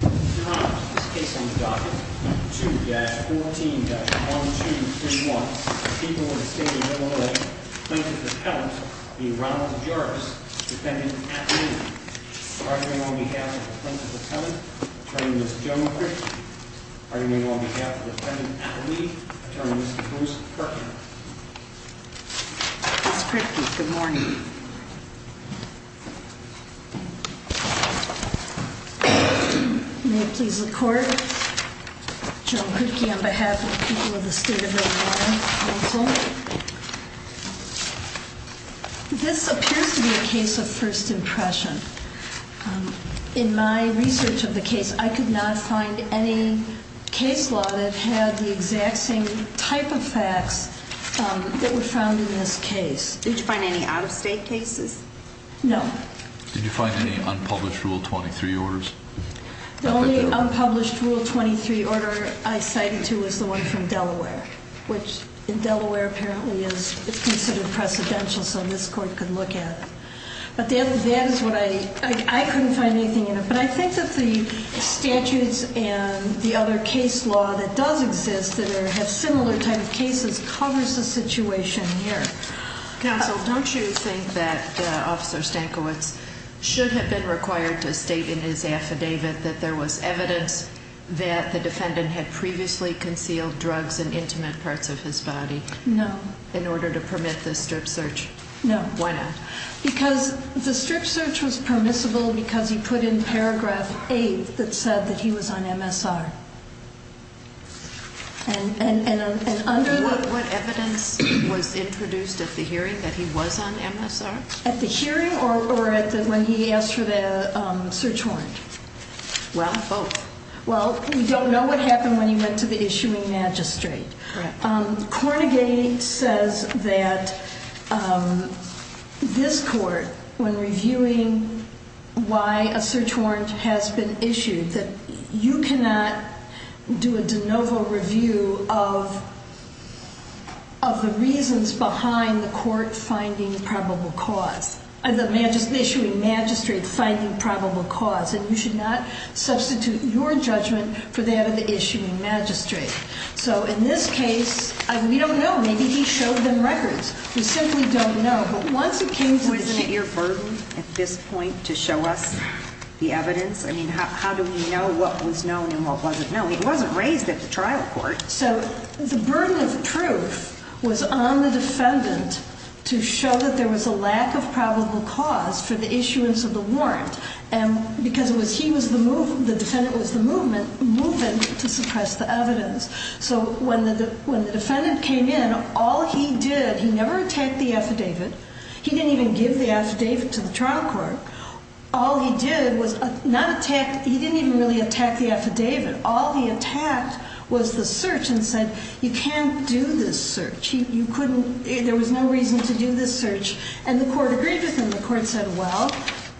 2-14-1231, the people of the state of Illinois, plaintiff's appellant, the Ronald Jarvis, defendant at lease. Arguing on behalf of the plaintiff's appellant, attorney Ms. Joan Kripke. Arguing on behalf of the defendant at lease, attorney Ms. Bruce Kirkman. Ms. Kripke, good morning. May it please the court, Joan Kripke on behalf of the people of the state of Illinois. This appears to be a case of first impression. In my research of the case, I could not find any case law that had the exact same type of facts that were found in this case. Did you find any out-of-state cases? No. Did you find any unpublished Rule 23 orders? The only unpublished Rule 23 order I cited to was the one from Delaware. Which in Delaware apparently is considered precedential so this court could look at it. But that is what I, I couldn't find anything in it. But I think that the statutes and the other case law that does exist that have similar type of cases covers the situation here. Counsel, don't you think that Officer Stankiewicz should have been required to state in his affidavit that there was evidence that the defendant had previously concealed drugs in intimate parts of his body? No. In order to permit the strip search? No. Why not? Because the strip search was permissible because he put in paragraph 8 that said that he was on MSR. What evidence was introduced at the hearing that he was on MSR? At the hearing or when he asked for the search warrant? Well, both. Well, we don't know what happened when he went to the issuing magistrate. Cornegay says that this court, when reviewing why a search warrant has been issued, that you cannot do a de novo review of the reasons behind the court finding probable cause. The issuing magistrate finding probable cause. And you should not substitute your judgment for that of the issuing magistrate. So in this case, we don't know. Maybe he showed them records. We simply don't know. But once he came to the hearing. Wasn't it your burden at this point to show us the evidence? I mean, how do we know what was known and what wasn't known? He wasn't raised at the trial court. So the burden of proof was on the defendant to show that there was a lack of probable cause for the issuance of the warrant. And because it was he was the move. The defendant was the movement movement to suppress the evidence. So when the when the defendant came in, all he did, he never attacked the affidavit. He didn't even give the affidavit to the trial court. All he did was not attack. He didn't even really attack the affidavit. All he attacked was the search and said, you can't do this search. You couldn't. There was no reason to do this search. And the court agreed with him. The court said, well,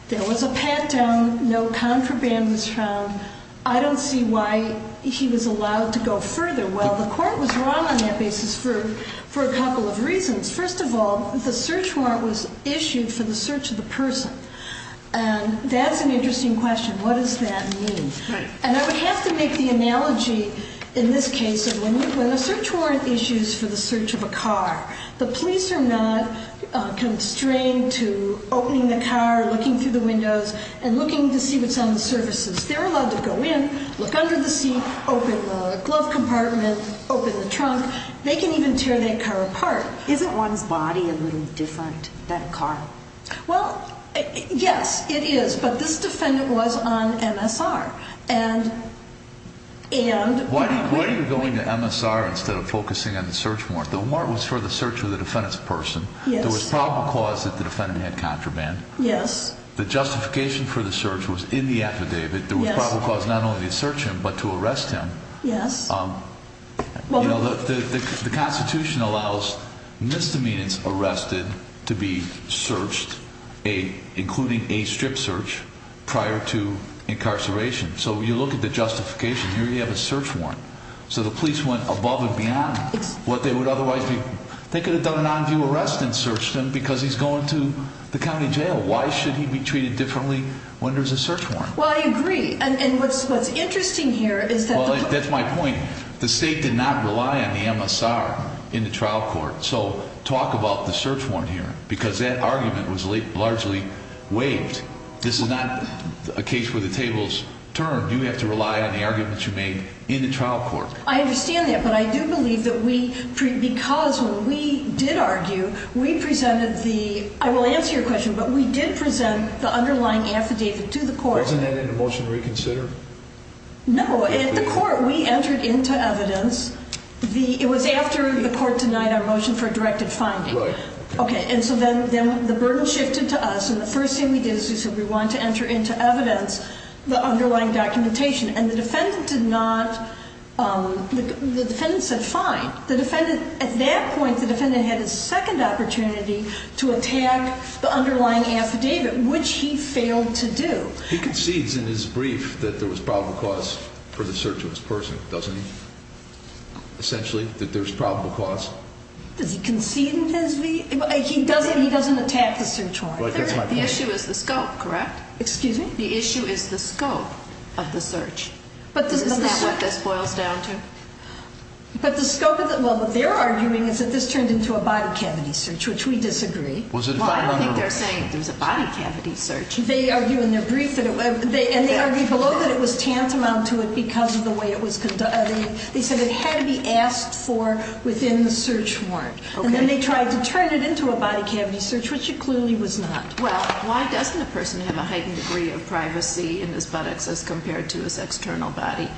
there was a pat down. No contraband was found. I don't see why he was allowed to go further. Well, the court was wrong on that basis for for a couple of reasons. First of all, the search warrant was issued for the search of the person. And that's an interesting question. What does that mean? And I would have to make the analogy in this case of when a search warrant issues for the search of a car, the police are not constrained to opening the car, looking through the windows and looking to see what's on the surfaces. They're allowed to go in, look under the seat, open the glove compartment, open the trunk. They can even tear their car apart. Isn't one's body a little different than a car? Well, yes, it is. But this defendant was on MSR. And. And. Why are you going to MSR instead of focusing on the search warrant? The warrant was for the search of the defendant's person. Yes. There was probable cause that the defendant had contraband. Yes. The justification for the search was in the affidavit. There was probable cause not only to search him, but to arrest him. Yes. The Constitution allows misdemeanors arrested to be searched, including a strip search, prior to incarceration. So you look at the justification. Here you have a search warrant. So the police went above and beyond what they would otherwise be. They could have done an on-view arrest and searched him because he's going to the county jail. Why should he be treated differently when there's a search warrant? Well, I agree. And what's interesting here is that. Well, that's my point. The state did not rely on the MSR in the trial court. So talk about the search warrant here because that argument was largely waived. This is not a case where the table's turned. You have to rely on the arguments you made in the trial court. I understand that, but I do believe that we. Because when we did argue, we presented the. I will answer your question, but we did present the underlying affidavit to the court. Wasn't that in the motion reconsider? No. At the court, we entered into evidence. It was after the court denied our motion for a directed finding. Right. Okay, and so then the burden shifted to us. And the first thing we did is we said we wanted to enter into evidence the underlying documentation. And the defendant did not. The defendant said fine. At that point, the defendant had a second opportunity to attack the underlying affidavit, which he failed to do. He concedes in his brief that there was probable cause for the search of his person, doesn't he? Essentially, that there's probable cause. Does he concede in his brief? He doesn't attack the search warrant. The issue is the scope, correct? Excuse me? The issue is the scope of the search. Isn't that what this boils down to? But the scope of the... Well, what they're arguing is that this turned into a body cavity search, which we disagree. Well, I don't think they're saying it was a body cavity search. They argue in their brief that it was... And they argue below that it was tantamount to it because of the way it was conducted. They said it had to be asked for within the search warrant. And then they tried to turn it into a body cavity search, which it clearly was not. Well, why doesn't a person have a heightened degree of privacy in his buttocks as compared to his external body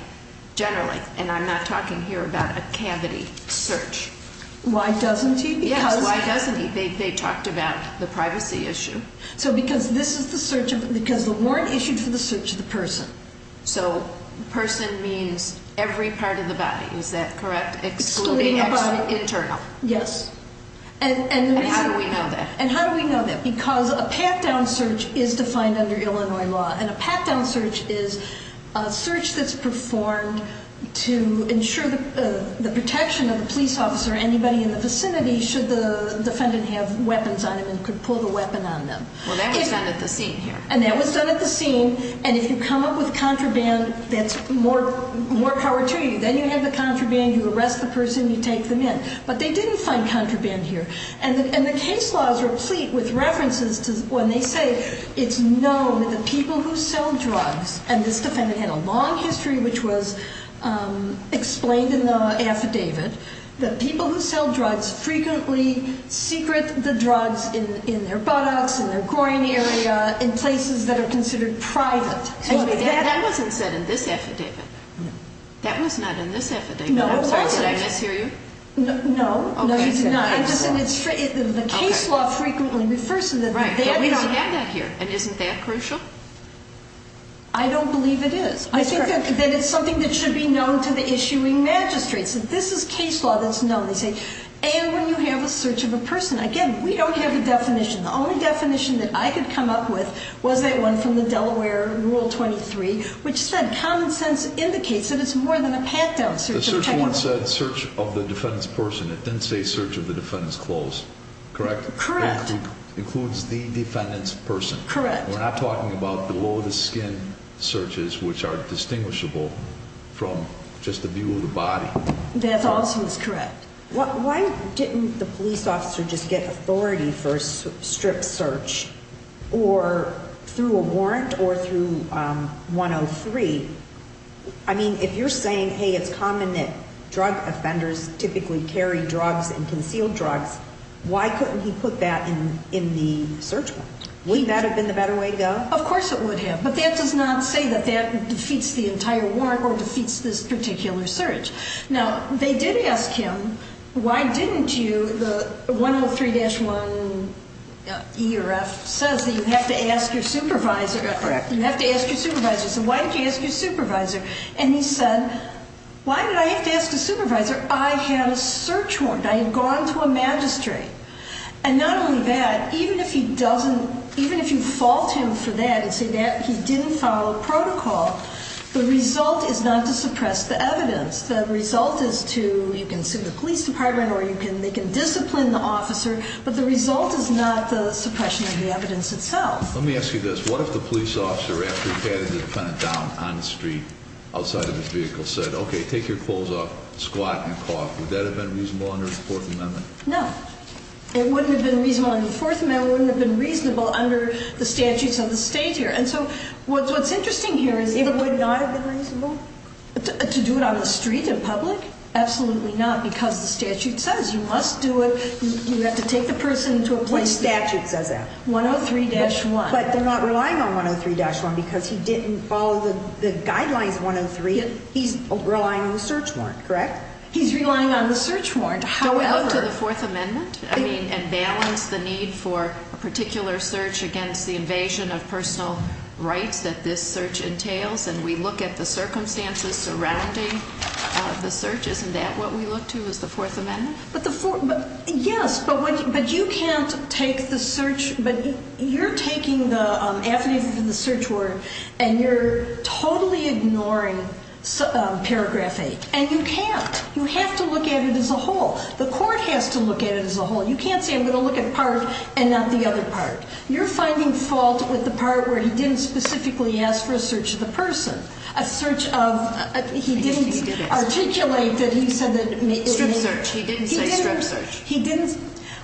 generally? And I'm not talking here about a cavity search. Why doesn't he? Yes, why doesn't he? They talked about the privacy issue. So because this is the search of... because the warrant issued for the search of the person. So person means every part of the body, is that correct, excluding external, internal? Yes. And how do we know that? And how do we know that? Because a pat-down search is defined under Illinois law, and a pat-down search is a search that's performed to ensure the protection of a police officer or anybody in the vicinity should the defendant have weapons on him and could pull the weapon on them. Well, that was done at the scene here. And that was done at the scene. And if you come up with contraband, that's more power to you. Then you have the contraband, you arrest the person, you take them in. But they didn't find contraband here. And the case laws are complete with references to when they say it's known that the people who sell drugs, and this defendant had a long history which was explained in the affidavit, that people who sell drugs frequently secret the drugs in their buttocks, in their groin area, in places that are considered private. That wasn't said in this affidavit. No. That was not in this affidavit. No, it wasn't. I'm sorry, did I mishear you? No. Okay. No, you did not. The case law frequently refers to that. Right. But we don't have that here. And isn't that crucial? I don't believe it is. I think that it's something that should be known to the issuing magistrates. And this is case law that's known. They say, and when you have a search of a person. Again, we don't have a definition. The only definition that I could come up with was that one from the Delaware Rule 23, which said, common sense indicates that it's more than a pat-down search. The search warrant said search of the defendant's person. It didn't say search of the defendant's clothes. Correct? Correct. Includes the defendant's person. Correct. We're not talking about below the skin searches, which are distinguishable from just the view of the body. That also is correct. Why didn't the police officer just get authority for a strip search or through a warrant or through 103? I mean, if you're saying, hey, it's common that drug offenders typically carry drugs and conceal drugs, why couldn't he put that in the search warrant? Wouldn't that have been the better way to go? Of course it would have. But that does not say that that defeats the entire warrant or defeats this particular search. Now, they did ask him, why didn't you, the 103-1E or F says that you have to ask your supervisor. Correct. You have to ask your supervisor. So why did you ask your supervisor? And he said, why did I have to ask a supervisor? I had a search warrant. I had gone to a magistrate. And not only that, even if he doesn't, even if you fault him for that and say that he didn't follow protocol, the result is not to suppress the evidence. The result is to, you can sue the police department or they can discipline the officer, but the result is not the suppression of the evidence itself. Let me ask you this. What if the police officer, after he had the defendant down on the street outside of his vehicle, said, okay, take your clothes off, squat, and cough? Would that have been reasonable under the Fourth Amendment? No. It wouldn't have been reasonable under the Fourth Amendment. It wouldn't have been reasonable under the statutes of the state here. And so what's interesting here is it would not have been reasonable to do it on the street in public? Absolutely not, because the statute says you must do it. You have to take the person to a place. Which statute says that? 103-1. But they're not relying on 103-1 because he didn't follow the guidelines 103. He's relying on the search warrant, correct? He's relying on the search warrant. Do we look to the Fourth Amendment and balance the need for a particular search against the invasion of personal rights that this search entails, and we look at the circumstances surrounding the search? Isn't that what we look to, is the Fourth Amendment? Yes, but you can't take the search. You're taking the affidavit and the search warrant, and you're totally ignoring paragraph 8. And you can't. You have to look at it as a whole. The court has to look at it as a whole. You can't say I'm going to look at part and not the other part. You're finding fault with the part where he didn't specifically ask for a search of the person, a search of he didn't articulate that he said that. Strip search. He didn't say strip search. He didn't.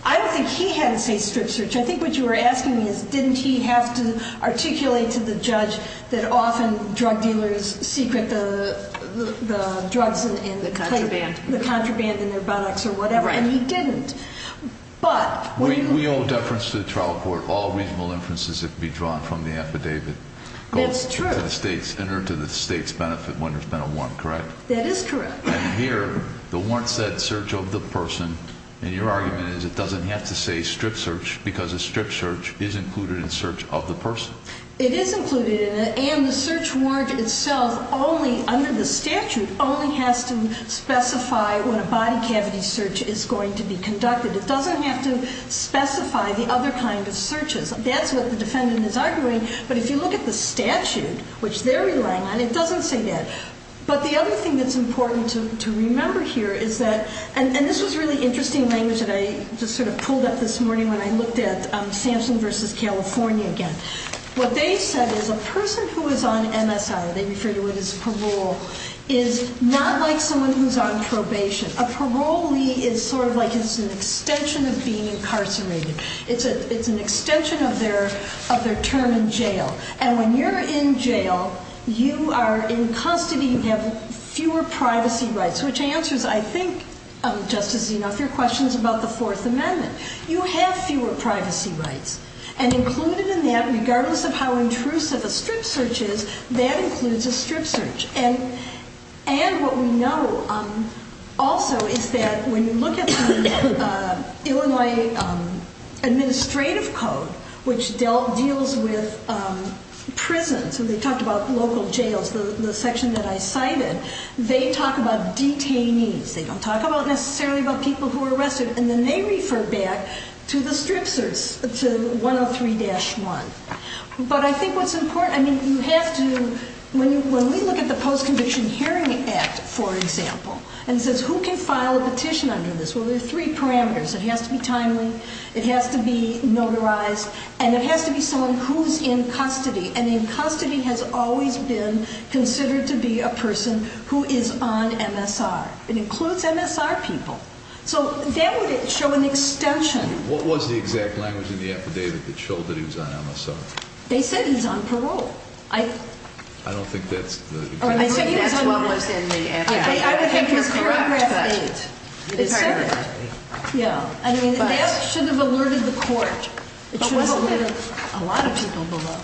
I don't think he had to say strip search. I think what you were asking me is didn't he have to articulate to the judge that often drug dealers secret the drugs in the plate? The contraband. The contraband in their buttocks or whatever, and he didn't. But what do you think? We owe deference to the trial court all reasonable inferences that can be drawn from the affidavit. That's true. Go to the state's benefit when there's been a warrant, correct? That is correct. And here the warrant said search of the person, and your argument is it doesn't have to say strip search because a strip search is included in search of the person. It is included in it, and the search warrant itself only under the statute only has to specify when a body cavity search is going to be conducted. It doesn't have to specify the other kind of searches. That's what the defendant is arguing. But if you look at the statute, which they're relying on, it doesn't say that. But the other thing that's important to remember here is that, and this was really interesting language that I just sort of pulled up this morning when I looked at Samson v. California again. What they said is a person who is on MSI, they refer to it as parole, is not like someone who's on probation. A parolee is sort of like it's an extension of being incarcerated. It's an extension of their term in jail. And when you're in jail, you are in custody. You have fewer privacy rights, which answers, I think, Justice Zenoff, your questions about the Fourth Amendment. You have fewer privacy rights. And included in that, regardless of how intrusive a strip search is, that includes a strip search. And what we know also is that when you look at the Illinois Administrative Code, which deals with prisons, and they talked about local jails, the section that I cited, they talk about detainees. They don't talk necessarily about people who are arrested. And then they refer back to the strip search, to 103-1. But I think what's important, I mean, you have to, when we look at the Post-Conviction Hearing Act, for example, and it says who can file a petition under this, well, there are three parameters. It has to be timely, it has to be notarized, and it has to be someone who's in custody. And in custody has always been considered to be a person who is on MSR. It includes MSR people. So that would show an extension. What was the exact language in the affidavit that showed that he was on MSR? They said he's on parole. I don't think that's the... I think that's what was in the affidavit. I would think it was paragraph 8. It said that. Yeah. I mean, that should have alerted the court. It should have alerted a lot of people below.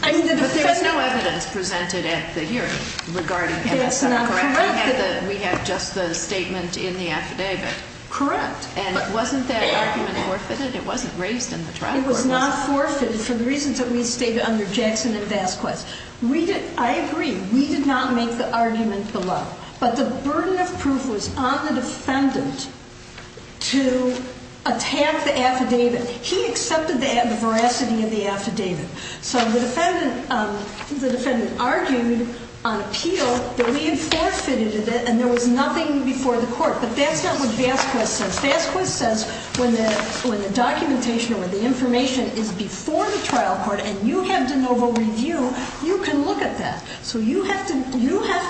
But there's no evidence presented at the hearing regarding MSR. That's not correct. We have just the statement in the affidavit. Correct. And wasn't that argument forfeited? It wasn't raised in the trial court. It was not forfeited for the reasons that we stated under Jackson and Vasquez. I agree. We did not make the argument below. But the burden of proof was on the defendant to attack the affidavit. He accepted the veracity of the affidavit. So the defendant argued on appeal that we had forfeited it and there was nothing before the court. But that's not what Vasquez says. Vasquez says when the documentation or the information is before the trial court and you have de novo review, you can look at that. So you have to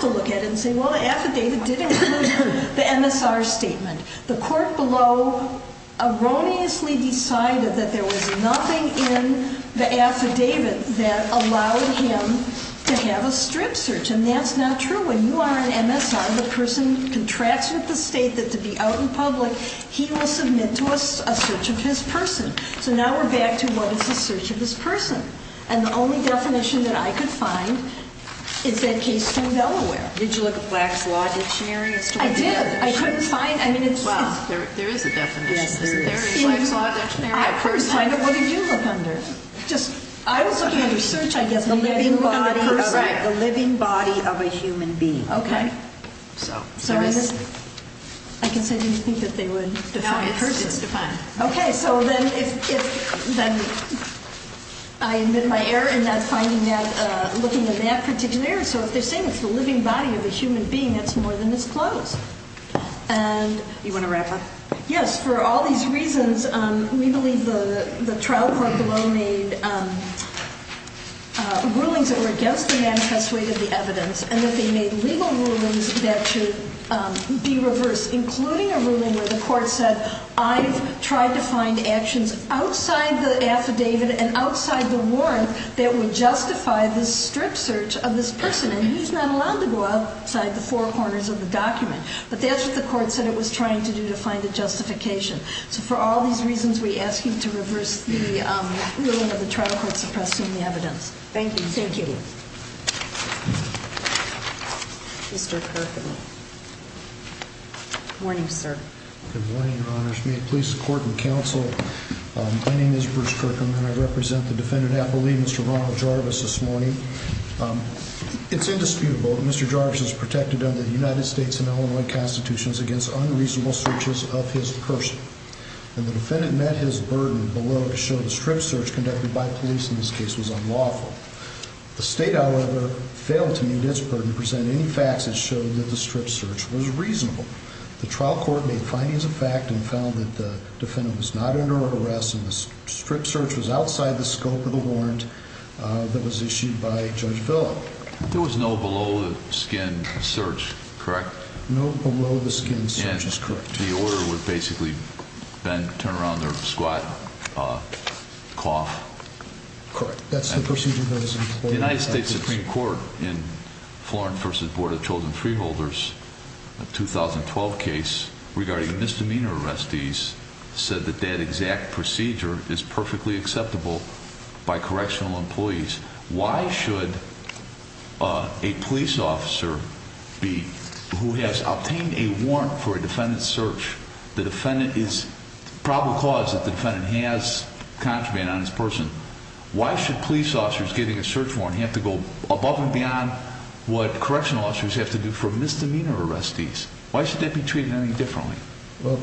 look at it and say, well, the affidavit did include the MSR statement. The court below erroneously decided that there was nothing in the affidavit that allowed him to have a strip search. And that's not true. When you are an MSI, the person contracts with the state that to be out in public, he will submit to us a search of his person. So now we're back to what is a search of his person. And the only definition that I could find is that case from Delaware. Did you look at Black's Law Dictionary? I did. I couldn't find it. Well, there is a definition. Yes, there is. Is there a Black's Law Dictionary? I couldn't find it. What did you look under? I was looking under search, I guess. The living body of a human being. Okay. Sorry, I guess I didn't think that they would define a person. No, it's defined. Okay, so then I admit my error in looking in that particular area. So if they're saying it's the living body of a human being, that's more than it's close. You want to wrap up? Yes, for all these reasons, we believe the trial court below made rulings that were against the manifest way to the evidence and that they made legal rulings that should be reversed, including a ruling where the court said I've tried to find actions outside the affidavit and outside the warrant that would justify this strip search of this person, and he's not allowed to go outside the four corners of the document. But that's what the court said it was trying to do to find a justification. So for all these reasons, we ask you to reverse the ruling of the trial court suppressing the evidence. Thank you. Thank you. Mr. Kirkham. Good morning, sir. Good morning, Your Honors. May it please the court and counsel, my name is Bruce Kirkham, and I represent the defendant affilee, Mr. Ronald Jarvis, this morning. It's indisputable that Mr. Jarvis is protected under the United States and Illinois Constitutions against unreasonable searches of his person, and the defendant met his burden below to show the strip search conducted by police in this case was unlawful. The state, however, failed to meet its burden to present any facts that showed that the strip search was reasonable. The trial court made findings of fact and found that the defendant was not under arrest and the strip search was outside the scope of the warrant that was issued by Judge Philip. There was no below-the-skin search, correct? No below-the-skin search is correct. And the order was basically bend, turn around, or squat, cough. Correct. That's the procedure that was employed. The United States Supreme Court in Florence v. Board of Chosen Freeholders, a 2012 case regarding misdemeanor arrestees, said that that exact procedure is perfectly acceptable by correctional employees. Why should a police officer who has obtained a warrant for a defendant's search, the defendant is probable cause that the defendant has contraband on his person, why should police officers getting a search warrant have to go above and beyond what correctional officers have to do for misdemeanor arrestees? Why should that be treated any differently? Well,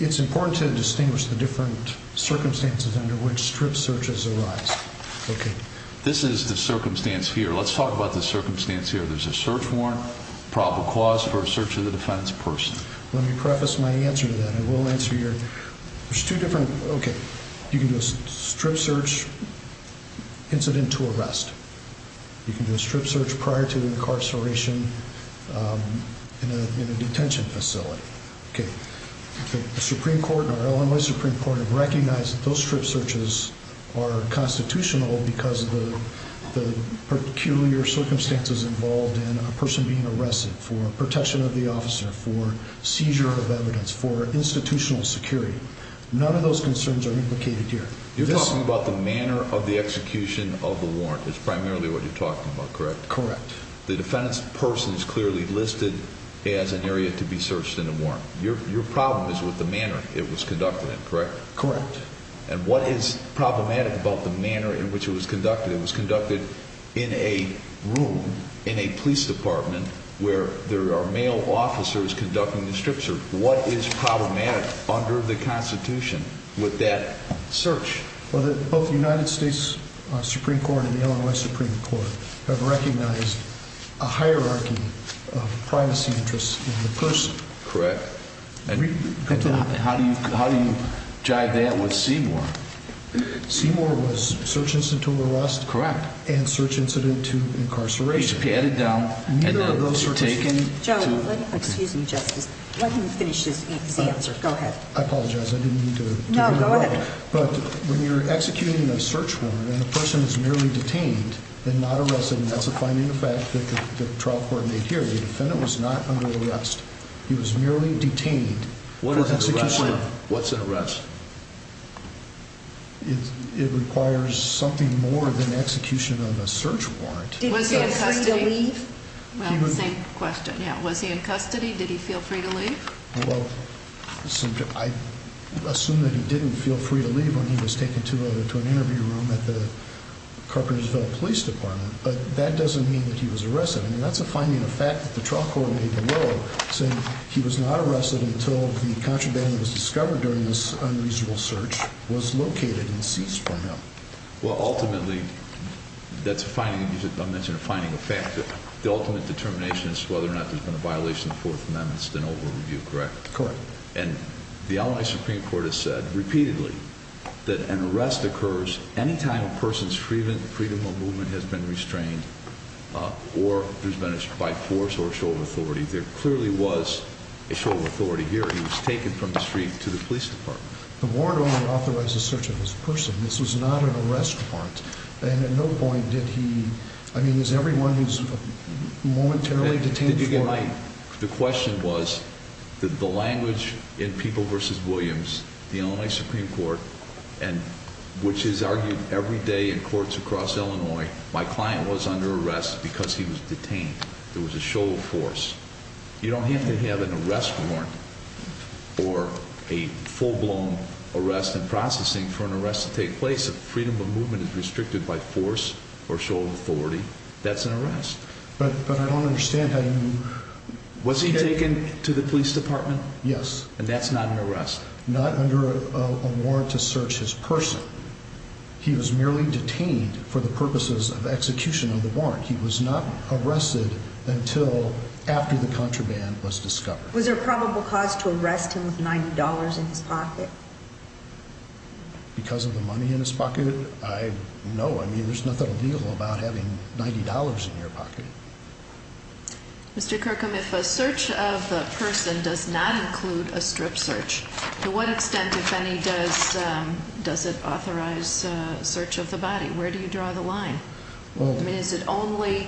it's important to distinguish the different circumstances under which strip searches arise. Okay. This is the circumstance here. Let's talk about the circumstance here. There's a search warrant, probable cause for a search of the defendant's person. Let me preface my answer to that. There's two different, okay, you can do a strip search incident to arrest. You can do a strip search prior to incarceration in a detention facility. Okay. The Supreme Court or Illinois Supreme Court have recognized that those strip searches are constitutional because of the peculiar circumstances involved in a person being arrested for protection of the officer, for seizure of evidence, for institutional security. None of those concerns are implicated here. You're talking about the manner of the execution of the warrant is primarily what you're talking about, correct? Correct. The defendant's person is clearly listed as an area to be searched in a warrant. Your problem is with the manner it was conducted in, correct? Correct. And what is problematic about the manner in which it was conducted? It was conducted in a room in a police department where there are male officers conducting the strip search. What is problematic under the Constitution with that search? Well, both the United States Supreme Court and the Illinois Supreme Court have recognized a hierarchy of privacy interests in the person. Correct. How do you jive that with Seymour? Seymour was search incident to arrest. Correct. And search incident to incarceration. PHP, edit down. Neither of those are taken. Joe, excuse me, Justice. Let him finish his answer. Go ahead. I apologize. I didn't mean to interrupt. No, go ahead. But when you're executing a search warrant and the person is merely detained and not arrested, and that's a finding of fact that the trial court made here. The defendant was not under arrest. He was merely detained for execution. What's an arrest? It requires something more than execution of a search warrant. Was he in custody? Did he feel free to leave? Well, same question. Yeah. Was he in custody? Did he feel free to leave? Well, I assume that he didn't feel free to leave when he was taken to an interview room at the Carpentersville Police Department. But that doesn't mean that he was arrested. I mean, that's a finding of fact that the trial court made below, saying he was not arrested until the contraband that was discovered during this unreasonable search was located and ceased for him. Well, ultimately, that's a finding of fact. The ultimate determination is whether or not there's been a violation of the Fourth Amendment. It's been over-reviewed, correct? Correct. And the Allied Supreme Court has said repeatedly that an arrest occurs any time a person's freedom of movement has been restrained or diminished by force or a show of authority. There clearly was a show of authority here. He was taken from the street to the police department. The warrant only authorizes search of this person. This was not an arrest warrant. And at no point did he – I mean, is everyone who's momentarily detained for – The question was, the language in People v. Williams, the Allied Supreme Court, which is argued every day in courts across Illinois, my client was under arrest because he was detained. It was a show of force. You don't have to have an arrest warrant or a full-blown arrest and processing for an arrest to take place if freedom of movement is restricted by force or show of authority. That's an arrest. But I don't understand how you – Was he taken to the police department? Yes. And that's not an arrest? Not under a warrant to search his person. He was merely detained for the purposes of execution of the warrant. He was not arrested until after the contraband was discovered. Was there a probable cause to arrest him with $90 in his pocket? Because of the money in his pocket? No. I mean, there's nothing illegal about having $90 in your pocket. Mr. Kirkham, if a search of the person does not include a strip search, to what extent, if any, does it authorize search of the body? Where do you draw the line? I mean, is it only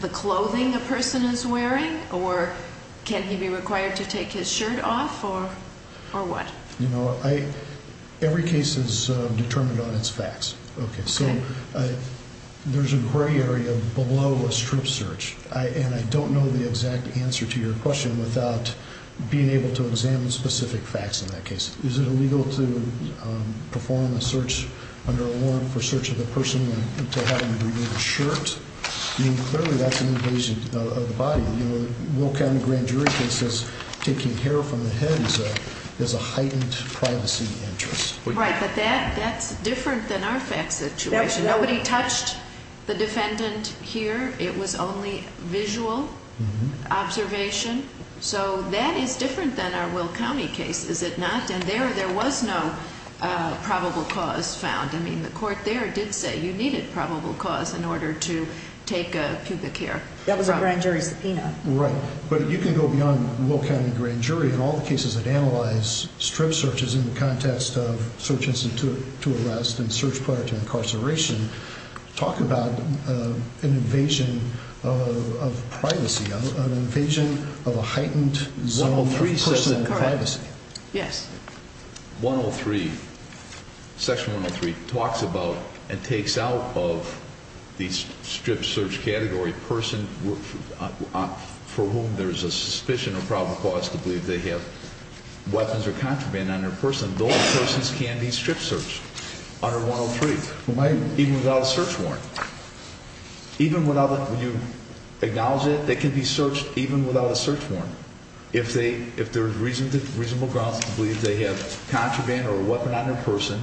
the clothing the person is wearing, or can he be required to take his shirt off, or what? You know, every case is determined on its facts. Okay. So there's a gray area below a strip search, and I don't know the exact answer to your question without being able to examine specific facts in that case. Is it illegal to perform a search under a warrant for search of the person to have him remove his shirt? I mean, clearly that's an invasion of the body. The Will County grand jury case is taking hair from the head, so there's a heightened privacy interest. Right, but that's different than our facts situation. Nobody touched the defendant here. It was only visual observation. So that is different than our Will County case, is it not? And there was no probable cause found. I mean, the court there did say you needed probable cause in order to take a pubic hair. That was a grand jury subpoena. Right. But you can go beyond Will County grand jury and all the cases that analyze strip searches in the context of search instance to arrest and search prior to incarceration. Talk about an invasion of privacy, an invasion of a heightened zone of personal privacy. Yes. 103, section 103 talks about and takes out of the strip search category person for whom there's a suspicion of probable cause to believe they have weapons or contraband on their person. Those persons can be strip searched under 103, even without a search warrant. Even when you acknowledge it, they can be searched even without a search warrant. If there's reasonable grounds to believe they have contraband or a weapon on their person,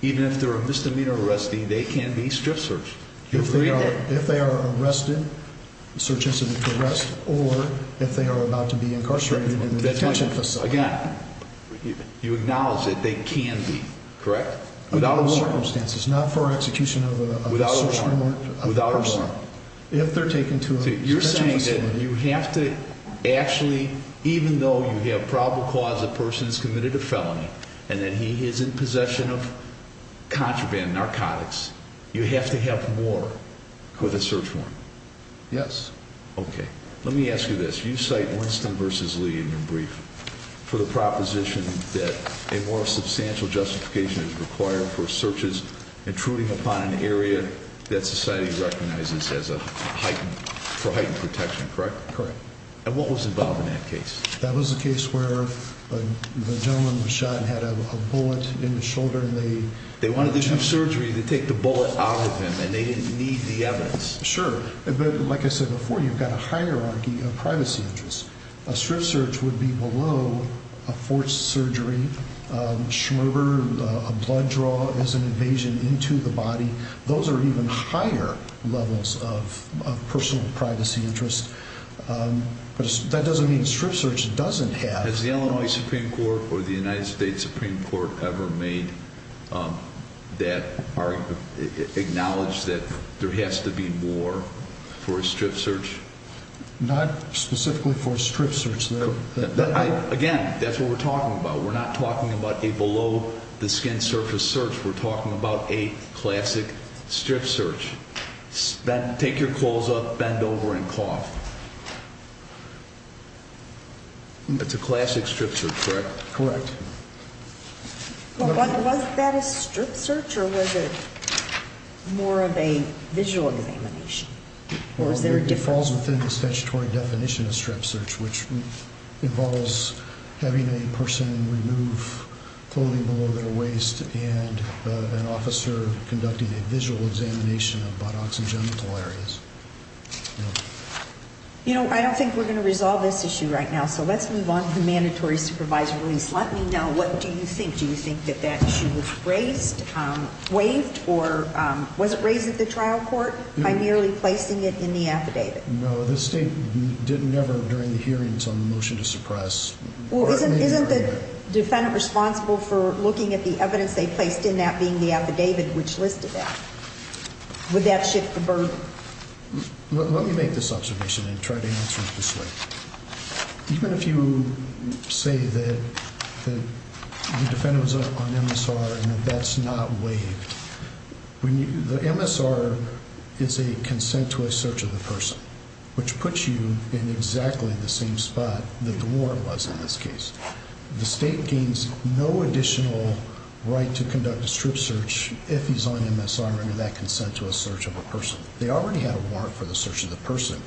even if they're a misdemeanor arresting, they can be strip searched. If they are arrested, the search incident progressed, or if they are about to be incarcerated in the detention facility. Again, you acknowledge that they can be, correct? Under those circumstances, not for execution of a search warrant. Without a warrant. If they're taken to a detention facility. You're saying that you have to actually, even though you have probable cause the person's committed a felony and that he is in possession of contraband, narcotics, you have to have more with a search warrant. Yes. Okay. Let me ask you this. You cite Winston v. Lee in your brief for the proposition that a more substantial justification is required for searches intruding upon an area that society recognizes as a heightened, for heightened protection, correct? Correct. And what was involved in that case? That was a case where the gentleman was shot and had a bullet in the shoulder and they... They wanted to do surgery to take the bullet out of him and they didn't need the evidence. Sure. But like I said before, you've got a hierarchy of privacy interests. A strip search would be below a forced surgery, schmerber, a blood draw as an invasion into the body. Those are even higher levels of personal privacy interests. But that doesn't mean strip search doesn't have... For a strip search. Not specifically for a strip search. Again, that's what we're talking about. We're not talking about a below the skin surface search. We're talking about a classic strip search. Take your clothes off, bend over and cough. It's a classic strip search, correct? Correct. Was that a strip search or was it more of a visual examination? Or is there a difference? It falls within the statutory definition of strip search, which involves having a person remove clothing below their waist and an officer conducting a visual examination of buttocks and genital areas. You know, I don't think we're going to resolve this issue right now, so let's move on from mandatory supervisory release. Let me know, what do you think? Do you think that that issue was raised, waived, or was it raised at the trial court by merely placing it in the affidavit? No, the state didn't ever, during the hearings on the motion to suppress... Well, isn't the defendant responsible for looking at the evidence they placed in that being the affidavit, which listed that? Would that shift the burden? Let me make this observation and try to answer it this way. Even if you say that the defendant was on MSR and that that's not waived, the MSR is a consent to a search of the person, which puts you in exactly the same spot that the warrant was in this case. The state gains no additional right to conduct a strip search if he's on MSR under that consent to a search of a person. They already had a warrant for the search of the person.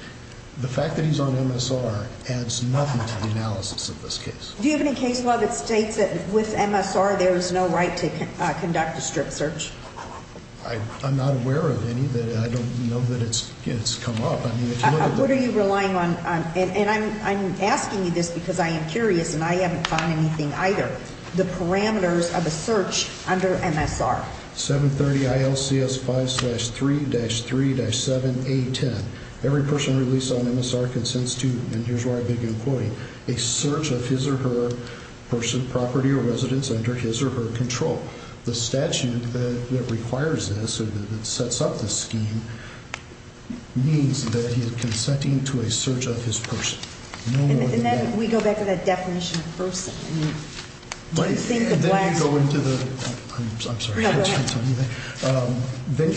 The fact that he's on MSR adds nothing to the analysis of this case. Do you have any case law that states that with MSR there is no right to conduct a strip search? I'm not aware of any. I don't know that it's come up. What are you relying on? And I'm asking you this because I am curious, and I haven't found anything either. The parameters of a search under MSR. 730 ILCS 5-3-3-7A10. Every person released on MSR consents to, and here's where I begin quoting, a search of his or her person, property, or residence under his or her control. The statute that requires this, that sets up this scheme, means that he is consenting to a search of his person. And then we go back to that definition of person. Then you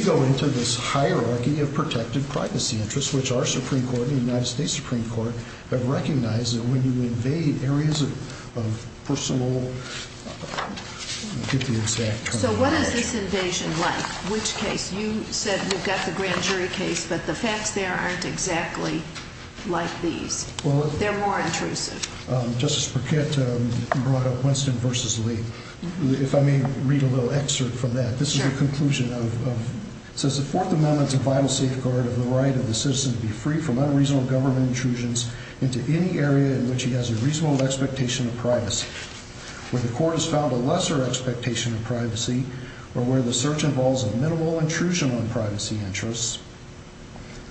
go into this hierarchy of protected privacy interests, which our Supreme Court and the United States Supreme Court have recognized that when you invade areas of personal, get the exact kind of information. So what is this invasion like? Which case? You said we've got the grand jury case, but the facts there aren't exactly like these. They're more intrusive. Justice Burkett brought up Winston v. Lee. If I may read a little excerpt from that. This is a conclusion of, it says, The Fourth Amendment is a vital safeguard of the right of the citizen to be free from unreasonable government intrusions into any area in which he has a reasonable expectation of privacy. Where the court has found a lesser expectation of privacy, or where the search involves a minimal intrusion on privacy interests,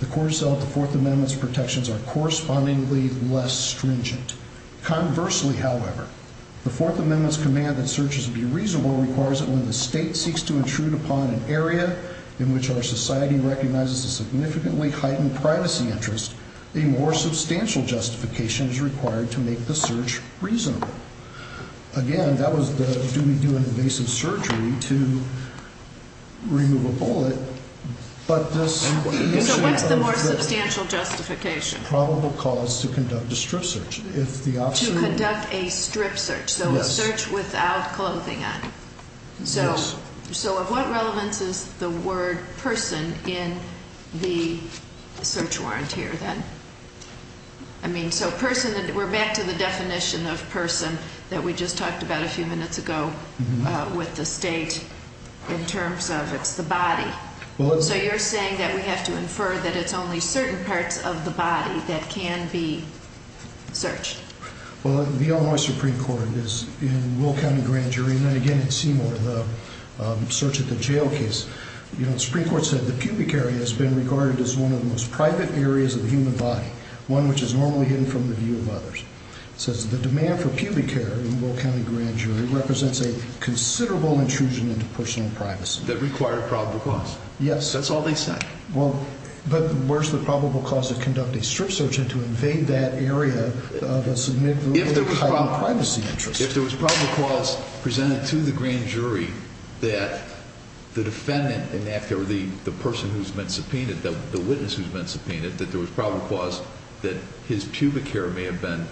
the court has felt the Fourth Amendment's protections are correspondingly less stringent. Conversely, however, the Fourth Amendment's command that searches be reasonable requires that when the state seeks to intrude upon an area in which our society recognizes a significantly heightened privacy interest, a more substantial justification is required to make the search reasonable. Again, that was the do-me-do in invasive surgery to remove a bullet. So what's the more substantial justification? Probable cause to conduct a strip search. To conduct a strip search, so a search without clothing on. Yes. So of what relevance is the word person in the search warrant here then? I mean, so person, we're back to the definition of person that we just talked about a few minutes ago with the state in terms of it's the body. So you're saying that we have to infer that it's only certain parts of the body that can be searched. Well, the Illinois Supreme Court is in Will County Grand Jury, and then again in Seymour, the search at the jail case. You know, the Supreme Court said the pubic area has been regarded as one of the most private areas of the human body, one which is normally hidden from the view of others. It says the demand for pubic care in Will County Grand Jury represents a considerable intrusion into personal privacy. That required probable cause. Yes. That's all they said. Well, but where's the probable cause to conduct a strip search and to invade that area of a significant privacy interest? If there was probable cause presented to the grand jury that the defendant, or the person who's been subpoenaed, the witness who's been subpoenaed, that there was probable cause that his pubic area may have been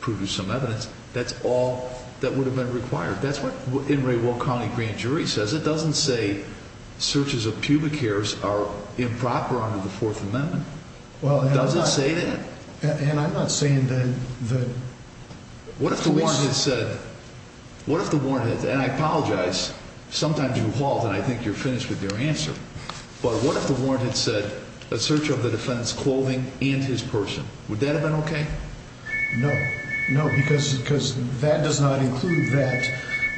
proven some evidence, that's all that would have been required. That's what in Will County Grand Jury says. It doesn't say searches of pubic areas are improper under the Fourth Amendment. It doesn't say that. And I'm not saying that the police... What if the warrant had said, and I apologize, sometimes you halt and I think you're finished with your answer, but what if the warrant had said a search of the defendant's clothing and his person? Would that have been okay? No. No, because that does not include that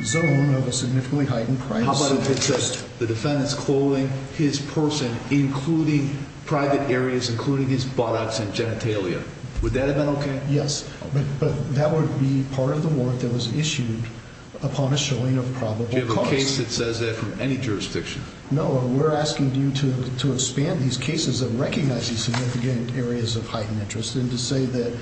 zone of a significantly heightened privacy interest. How about if it said the defendant's clothing, his person, including private areas, including his buttocks and genitalia? Would that have been okay? Yes. But that would be part of the warrant that was issued upon a showing of probable cause. Do you have a case that says that from any jurisdiction? No. We're asking you to expand these cases of recognizing significant areas of heightened interest and to say that,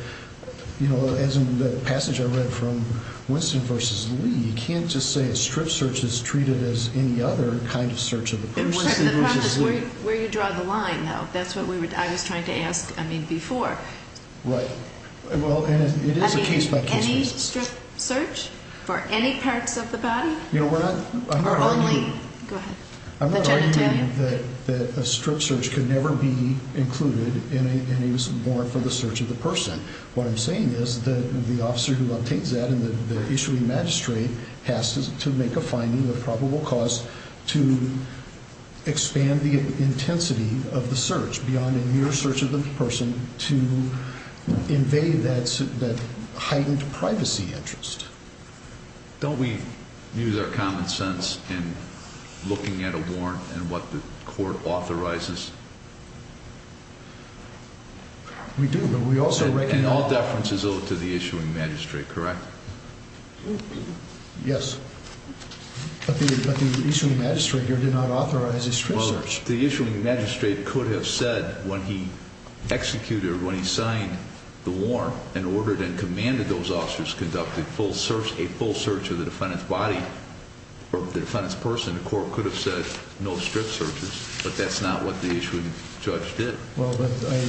you know, as in the passage I read from Winston v. Lee, you can't just say a strip search is treated as any other kind of search of the person. The problem is where you draw the line, though. That's what I was trying to ask, I mean, before. Right. Well, and it is a case-by-case basis. Any strip search for any parts of the body? You know, we're not arguing. Or only. Go ahead. The genitalia? I'm not arguing that a strip search could never be included in a warrant for the search of the person. What I'm saying is that the officer who updates that and the issuing magistrate has to make a finding of probable cause to expand the intensity of the search beyond a mere search of the person to invade that heightened privacy interest. Don't we use our common sense in looking at a warrant and what the court authorizes? We do, but we also recognize— And all deference is owed to the issuing magistrate, correct? Yes. But the issuing magistrate here did not authorize a strip search. Well, the issuing magistrate could have said when he executed or when he signed the warrant and ordered and commanded those officers conduct a full search of the defendant's body or the defendant's person, the court could have said no strip searches, but that's not what the issuing judge did.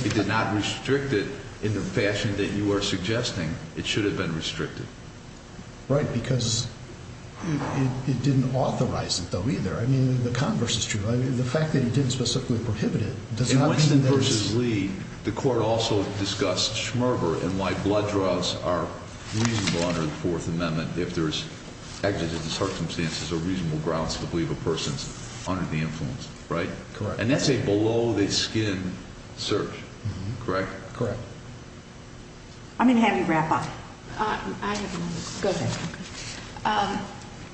He did not restrict it in the fashion that you are suggesting it should have been restricted. Right, because it didn't authorize it, though, either. I mean, the converse is true. The fact that he didn't specifically prohibit it does not mean there's— My blood draws are reasonable under the Fourth Amendment if there's exigent circumstances or reasonable grounds to believe a person's under the influence, right? Correct. And that's a below-the-skin search, correct? Correct. I'm going to have you wrap up. I have one more question. Go ahead.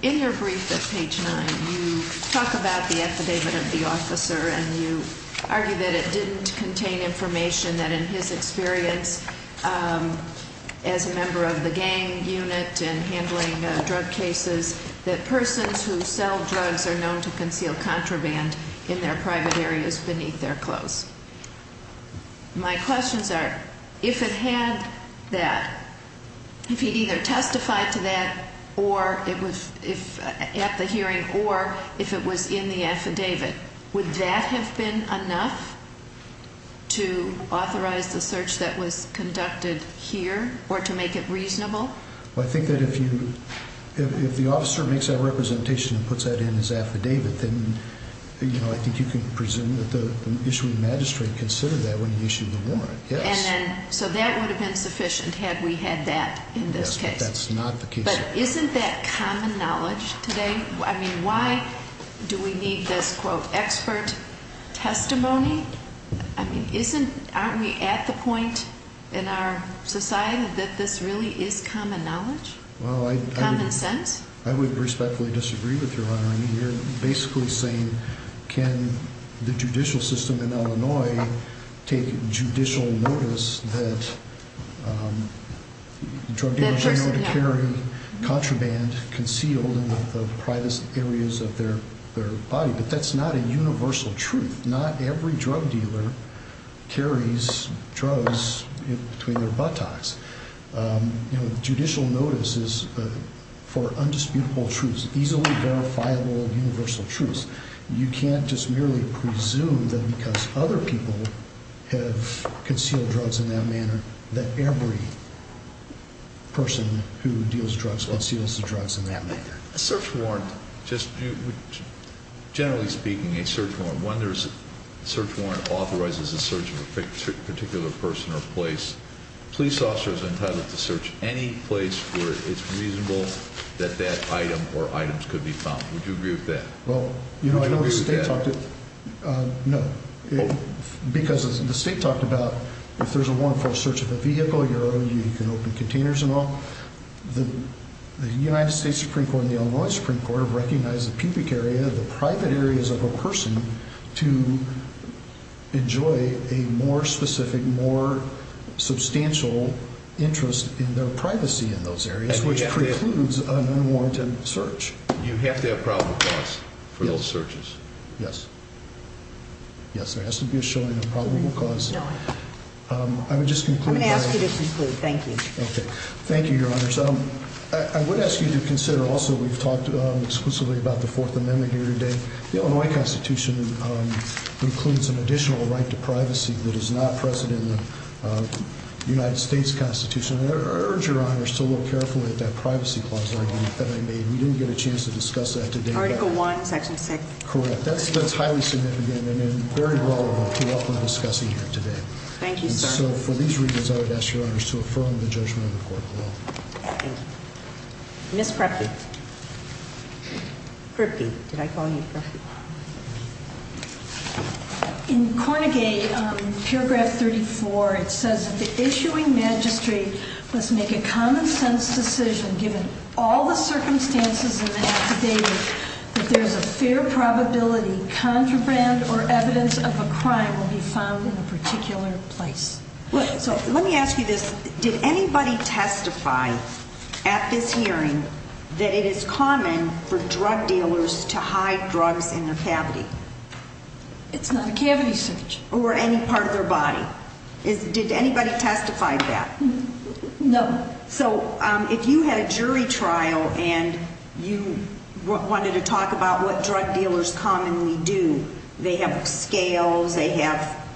In your brief at page 9, you talk about the affidavit of the officer and you argue that it didn't contain information that, in his experience as a member of the gang unit and handling drug cases, that persons who sell drugs are known to conceal contraband in their private areas beneath their clothes. My questions are, if it had that, if he'd either testified to that at the hearing or if it was in the affidavit, would that have been enough to authorize the search that was conducted here or to make it reasonable? Well, I think that if you—if the officer makes that representation and puts that in his affidavit, then, you know, I think you can presume that the issuing magistrate considered that when he issued the warrant, yes. And then—so that would have been sufficient had we had that in this case? Yes, but that's not the case. But isn't that common knowledge today? I mean, why do we need this, quote, expert testimony? I mean, isn't—aren't we at the point in our society that this really is common knowledge? Well, I— Common sense? I would respectfully disagree with you, Your Honor. I mean, you're basically saying, can the judicial system in Illinois take judicial notice that drug dealers are known to carry contraband concealed in the private areas of their body? But that's not a universal truth. Not every drug dealer carries drugs between their buttocks. You know, judicial notice is for undisputable truths, easily verifiable universal truths. You can't just merely presume that because other people have concealed drugs in that manner that every person who deals drugs conceals the drugs in that manner. A search warrant, just—generally speaking, a search warrant, when there's a search warrant authorizes a search of a particular person or place, police officers are entitled to search any place where it's reasonable that that item or items could be found. Would you agree with that? Well, you know, I know the state talked— Would you agree with that? No. Because the state talked about if there's a warrant for a search of a vehicle, you can open containers and all. The United States Supreme Court and the Illinois Supreme Court have recognized the pubic area, the private areas of a person, to enjoy a more specific, more substantial interest in their privacy in those areas, which precludes an unwarranted search. You have to have probable cause for those searches. Yes. Yes, there has to be a showing of probable cause. I would just conclude— I'm going to ask you to conclude. Thank you. Okay. Thank you, Your Honors. I would ask you to consider also we've talked exclusively about the Fourth Amendment here today. The Illinois Constitution includes an additional right to privacy that is not present in the United States Constitution. I urge Your Honors to look carefully at that privacy clause that I made. We didn't get a chance to discuss that today, but— Article I, Section 6. Correct. That's highly significant and very relevant to what we're discussing here today. Thank you, sir. And so for these reasons, I would ask Your Honors to affirm the judgment of the court. Thank you. Ms. Krupke. Krupke. Did I call you Krupke? In Cornegate, Paragraph 34, it says that the issuing magistrate must make a common-sense decision given all the circumstances in the affidavit that there's a fair probability contraband or evidence of a crime will be found in a particular place. So let me ask you this. Did anybody testify at this hearing that it is common for drug dealers to hide drugs in their cavity? It's not a cavity search. Or any part of their body. Did anybody testify to that? No. So if you had a jury trial and you wanted to talk about what drug dealers commonly do, they have scales, they have,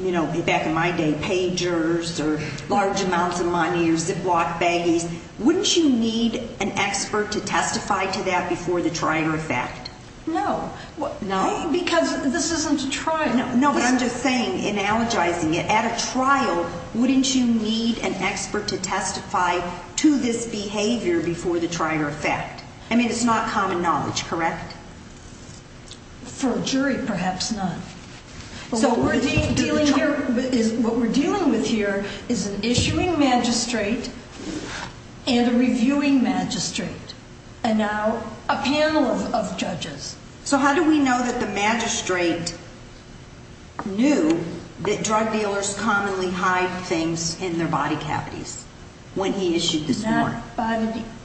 you know, back in my day, pagers or large amounts of money or ziplock baggies, wouldn't you need an expert to testify to that before the trial or fact? No. No? Because this isn't a trial. No, but I'm just saying, analogizing it, at a trial, wouldn't you need an expert to testify to this behavior before the trial or fact? I mean, it's not common knowledge, correct? For a jury, perhaps not. So what we're dealing with here is an issuing magistrate and a reviewing magistrate and now a panel of judges. So how do we know that the magistrate knew that drug dealers commonly hide things in their body cavities when he issued this warrant?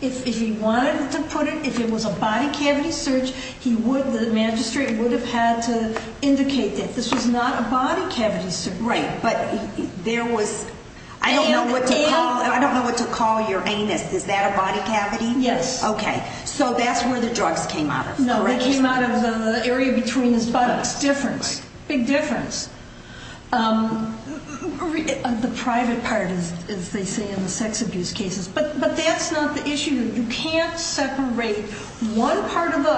If he wanted to put it, if it was a body cavity search, the magistrate would have had to indicate that this was not a body cavity search. Right, but there was, I don't know what to call your anus. Is that a body cavity? Yes. Okay. So that's where the drugs came out of. No, they came out of the area between his buttocks. Difference. Big difference. The private part, as they say in the sex abuse cases. But that's not the issue. You can't separate one part of the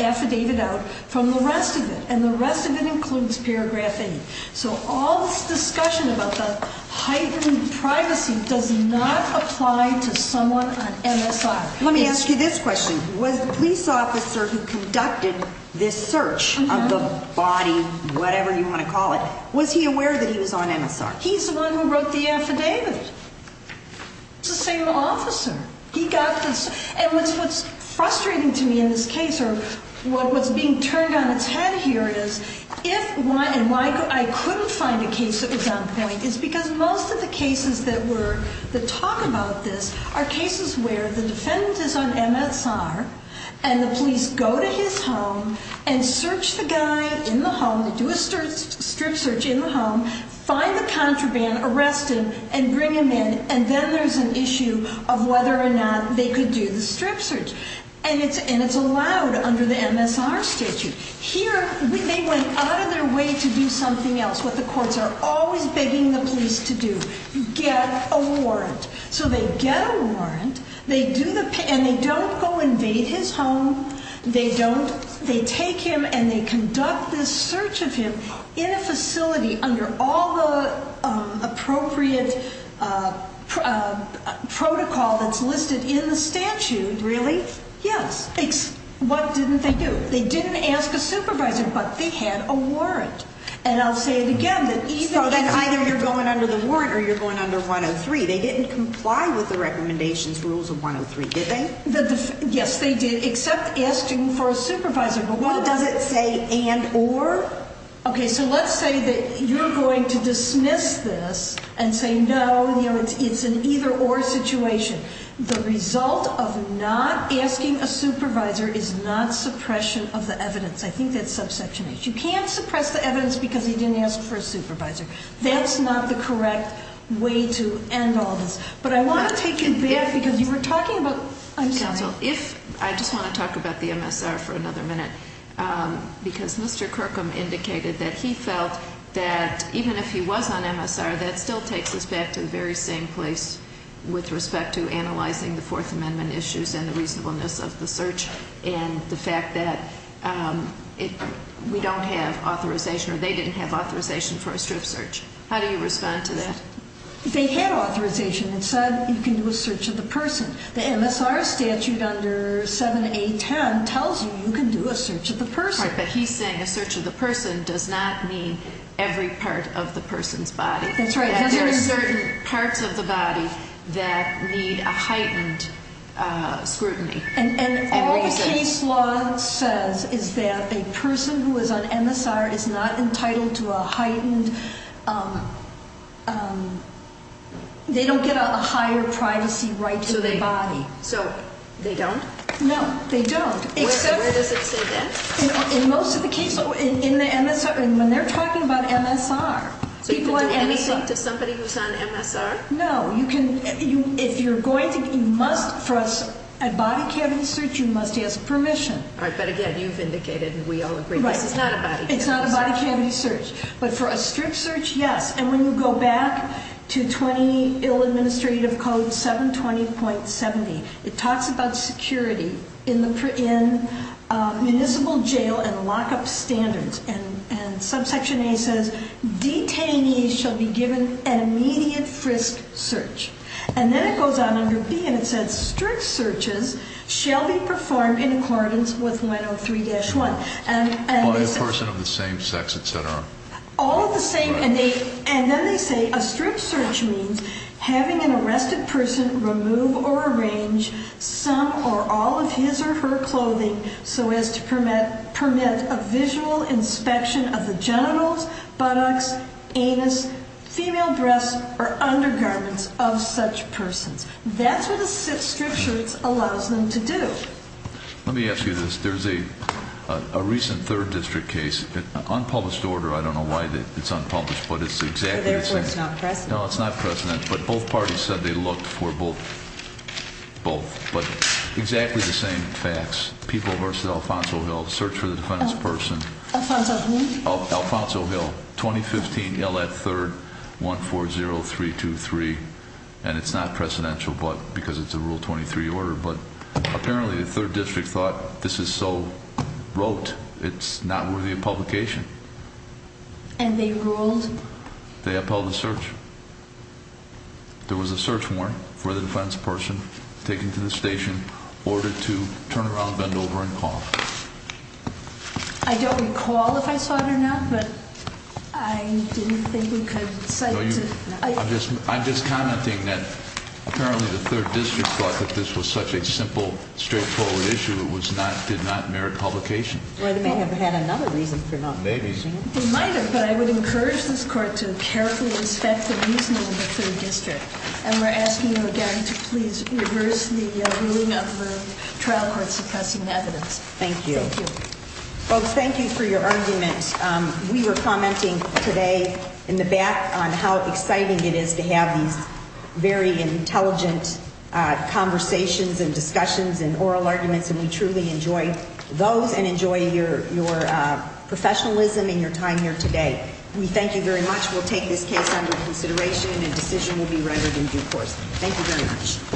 affidavit out from the rest of it, and the rest of it includes paragraph 8. So all this discussion about the heightened privacy does not apply to someone on MSR. Let me ask you this question. Was the police officer who conducted this search of the body, whatever you want to call it, was he aware that he was on MSR? He's the one who wrote the affidavit. It's the same officer. And what's frustrating to me in this case, or what's being turned on its head here is, if and why I couldn't find a case that was on point, is because most of the cases that talk about this are cases where the defendant is on MSR, and the police go to his home and search the guy in the home, they do a strip search in the home, find the contraband, arrest him, and bring him in, and then there's an issue of whether or not they could do the strip search. And it's allowed under the MSR statute. Here, they went out of their way to do something else, what the courts are always begging the police to do, get a warrant. So they get a warrant, and they don't go invade his home. They don't. They take him, and they conduct this search of him in a facility under all the appropriate protocol that's listed in the statute. Really? Yes. What didn't they do? They didn't ask a supervisor, but they had a warrant. And I'll say it again. So then either you're going under the warrant or you're going under 103. They didn't comply with the recommendations rules of 103, did they? Yes, they did, except asking for a supervisor. But what does it say, and, or? Okay, so let's say that you're going to dismiss this and say, no, it's an either-or situation. The result of not asking a supervisor is not suppression of the evidence. I think that's subsection H. You can't suppress the evidence because he didn't ask for a supervisor. That's not the correct way to end all this. But I want to take you back because you were talking about ‑‑ Counsel, I just want to talk about the MSR for another minute because Mr. Kirkham indicated that he felt that even if he was on MSR, that still takes us back to the very same place with respect to analyzing the Fourth Amendment issues and the reasonableness of the search and the fact that we don't have authorization, or they didn't have authorization for a strip search. How do you respond to that? They had authorization and said you can do a search of the person. The MSR statute under 7A10 tells you you can do a search of the person. Right, but he's saying a search of the person does not mean every part of the person's body. That's right. There are certain parts of the body that need a heightened scrutiny. And all the case law says is that a person who is on MSR is not entitled to a heightened ‑‑ they don't get a higher privacy right to their body. So they don't? No, they don't. Where does it say that? In most of the cases, in the MSR, when they're talking about MSR. So you can do anything to somebody who's on MSR? No, you can ‑‑ if you're going to ‑‑ you must, for a body cavity search, you must ask permission. All right, but again, you've indicated and we all agree this is not a body cavity search. It's not a body cavity search. But for a strip search, yes. And when you go back to 20 Ill Administrative Code 720.70, it talks about security in municipal jail and lockup standards. And subsection A says, detainees shall be given an immediate frisk search. And then it goes on under B and it says, strict searches shall be performed in accordance with 103-1. By a person of the same sex, et cetera. All the same. And then they say, a strip search means having an arrested person remove or arrange some or all of his or her clothing so as to permit a visual inspection of the genitals, buttocks, anus, female breasts, or undergarments of such persons. That's what a strip search allows them to do. Let me ask you this. There's a recent third district case. Unpublished order. I don't know why it's unpublished, but it's exactly the same. So therefore, it's not precedent. No, it's not precedent. But both parties said they looked for both. But exactly the same facts. People versus Alfonso Hill. Search for the defendant's person. Alfonso who? Alfonso Hill. 2015, L.F. 3rd, 140323. And it's not precedential because it's a Rule 23 order. But apparently the third district thought this is so rote, it's not worthy of publication. And they ruled? They upheld the search. There was a search warrant for the defense person taken to the station, ordered to turn around, bend over, and call. I don't recall if I saw it or not, but I didn't think we could cite it. I'm just commenting that apparently the third district thought that this was such a simple, straightforward issue, it did not merit publication. Well, it may have had another reason for not. Maybe. It might have, but I would encourage this court to carefully inspect the reasoning of the third district. And we're asking you again to please reverse the ruling of the trial court suppressing evidence. Thank you. Thank you. Folks, thank you for your arguments. We were commenting today in the back on how exciting it is to have these very intelligent conversations and discussions and oral arguments. And we truly enjoy those and enjoy your professionalism and your time here today. We thank you very much. We'll take this case under consideration, and a decision will be rendered in due course. Thank you very much.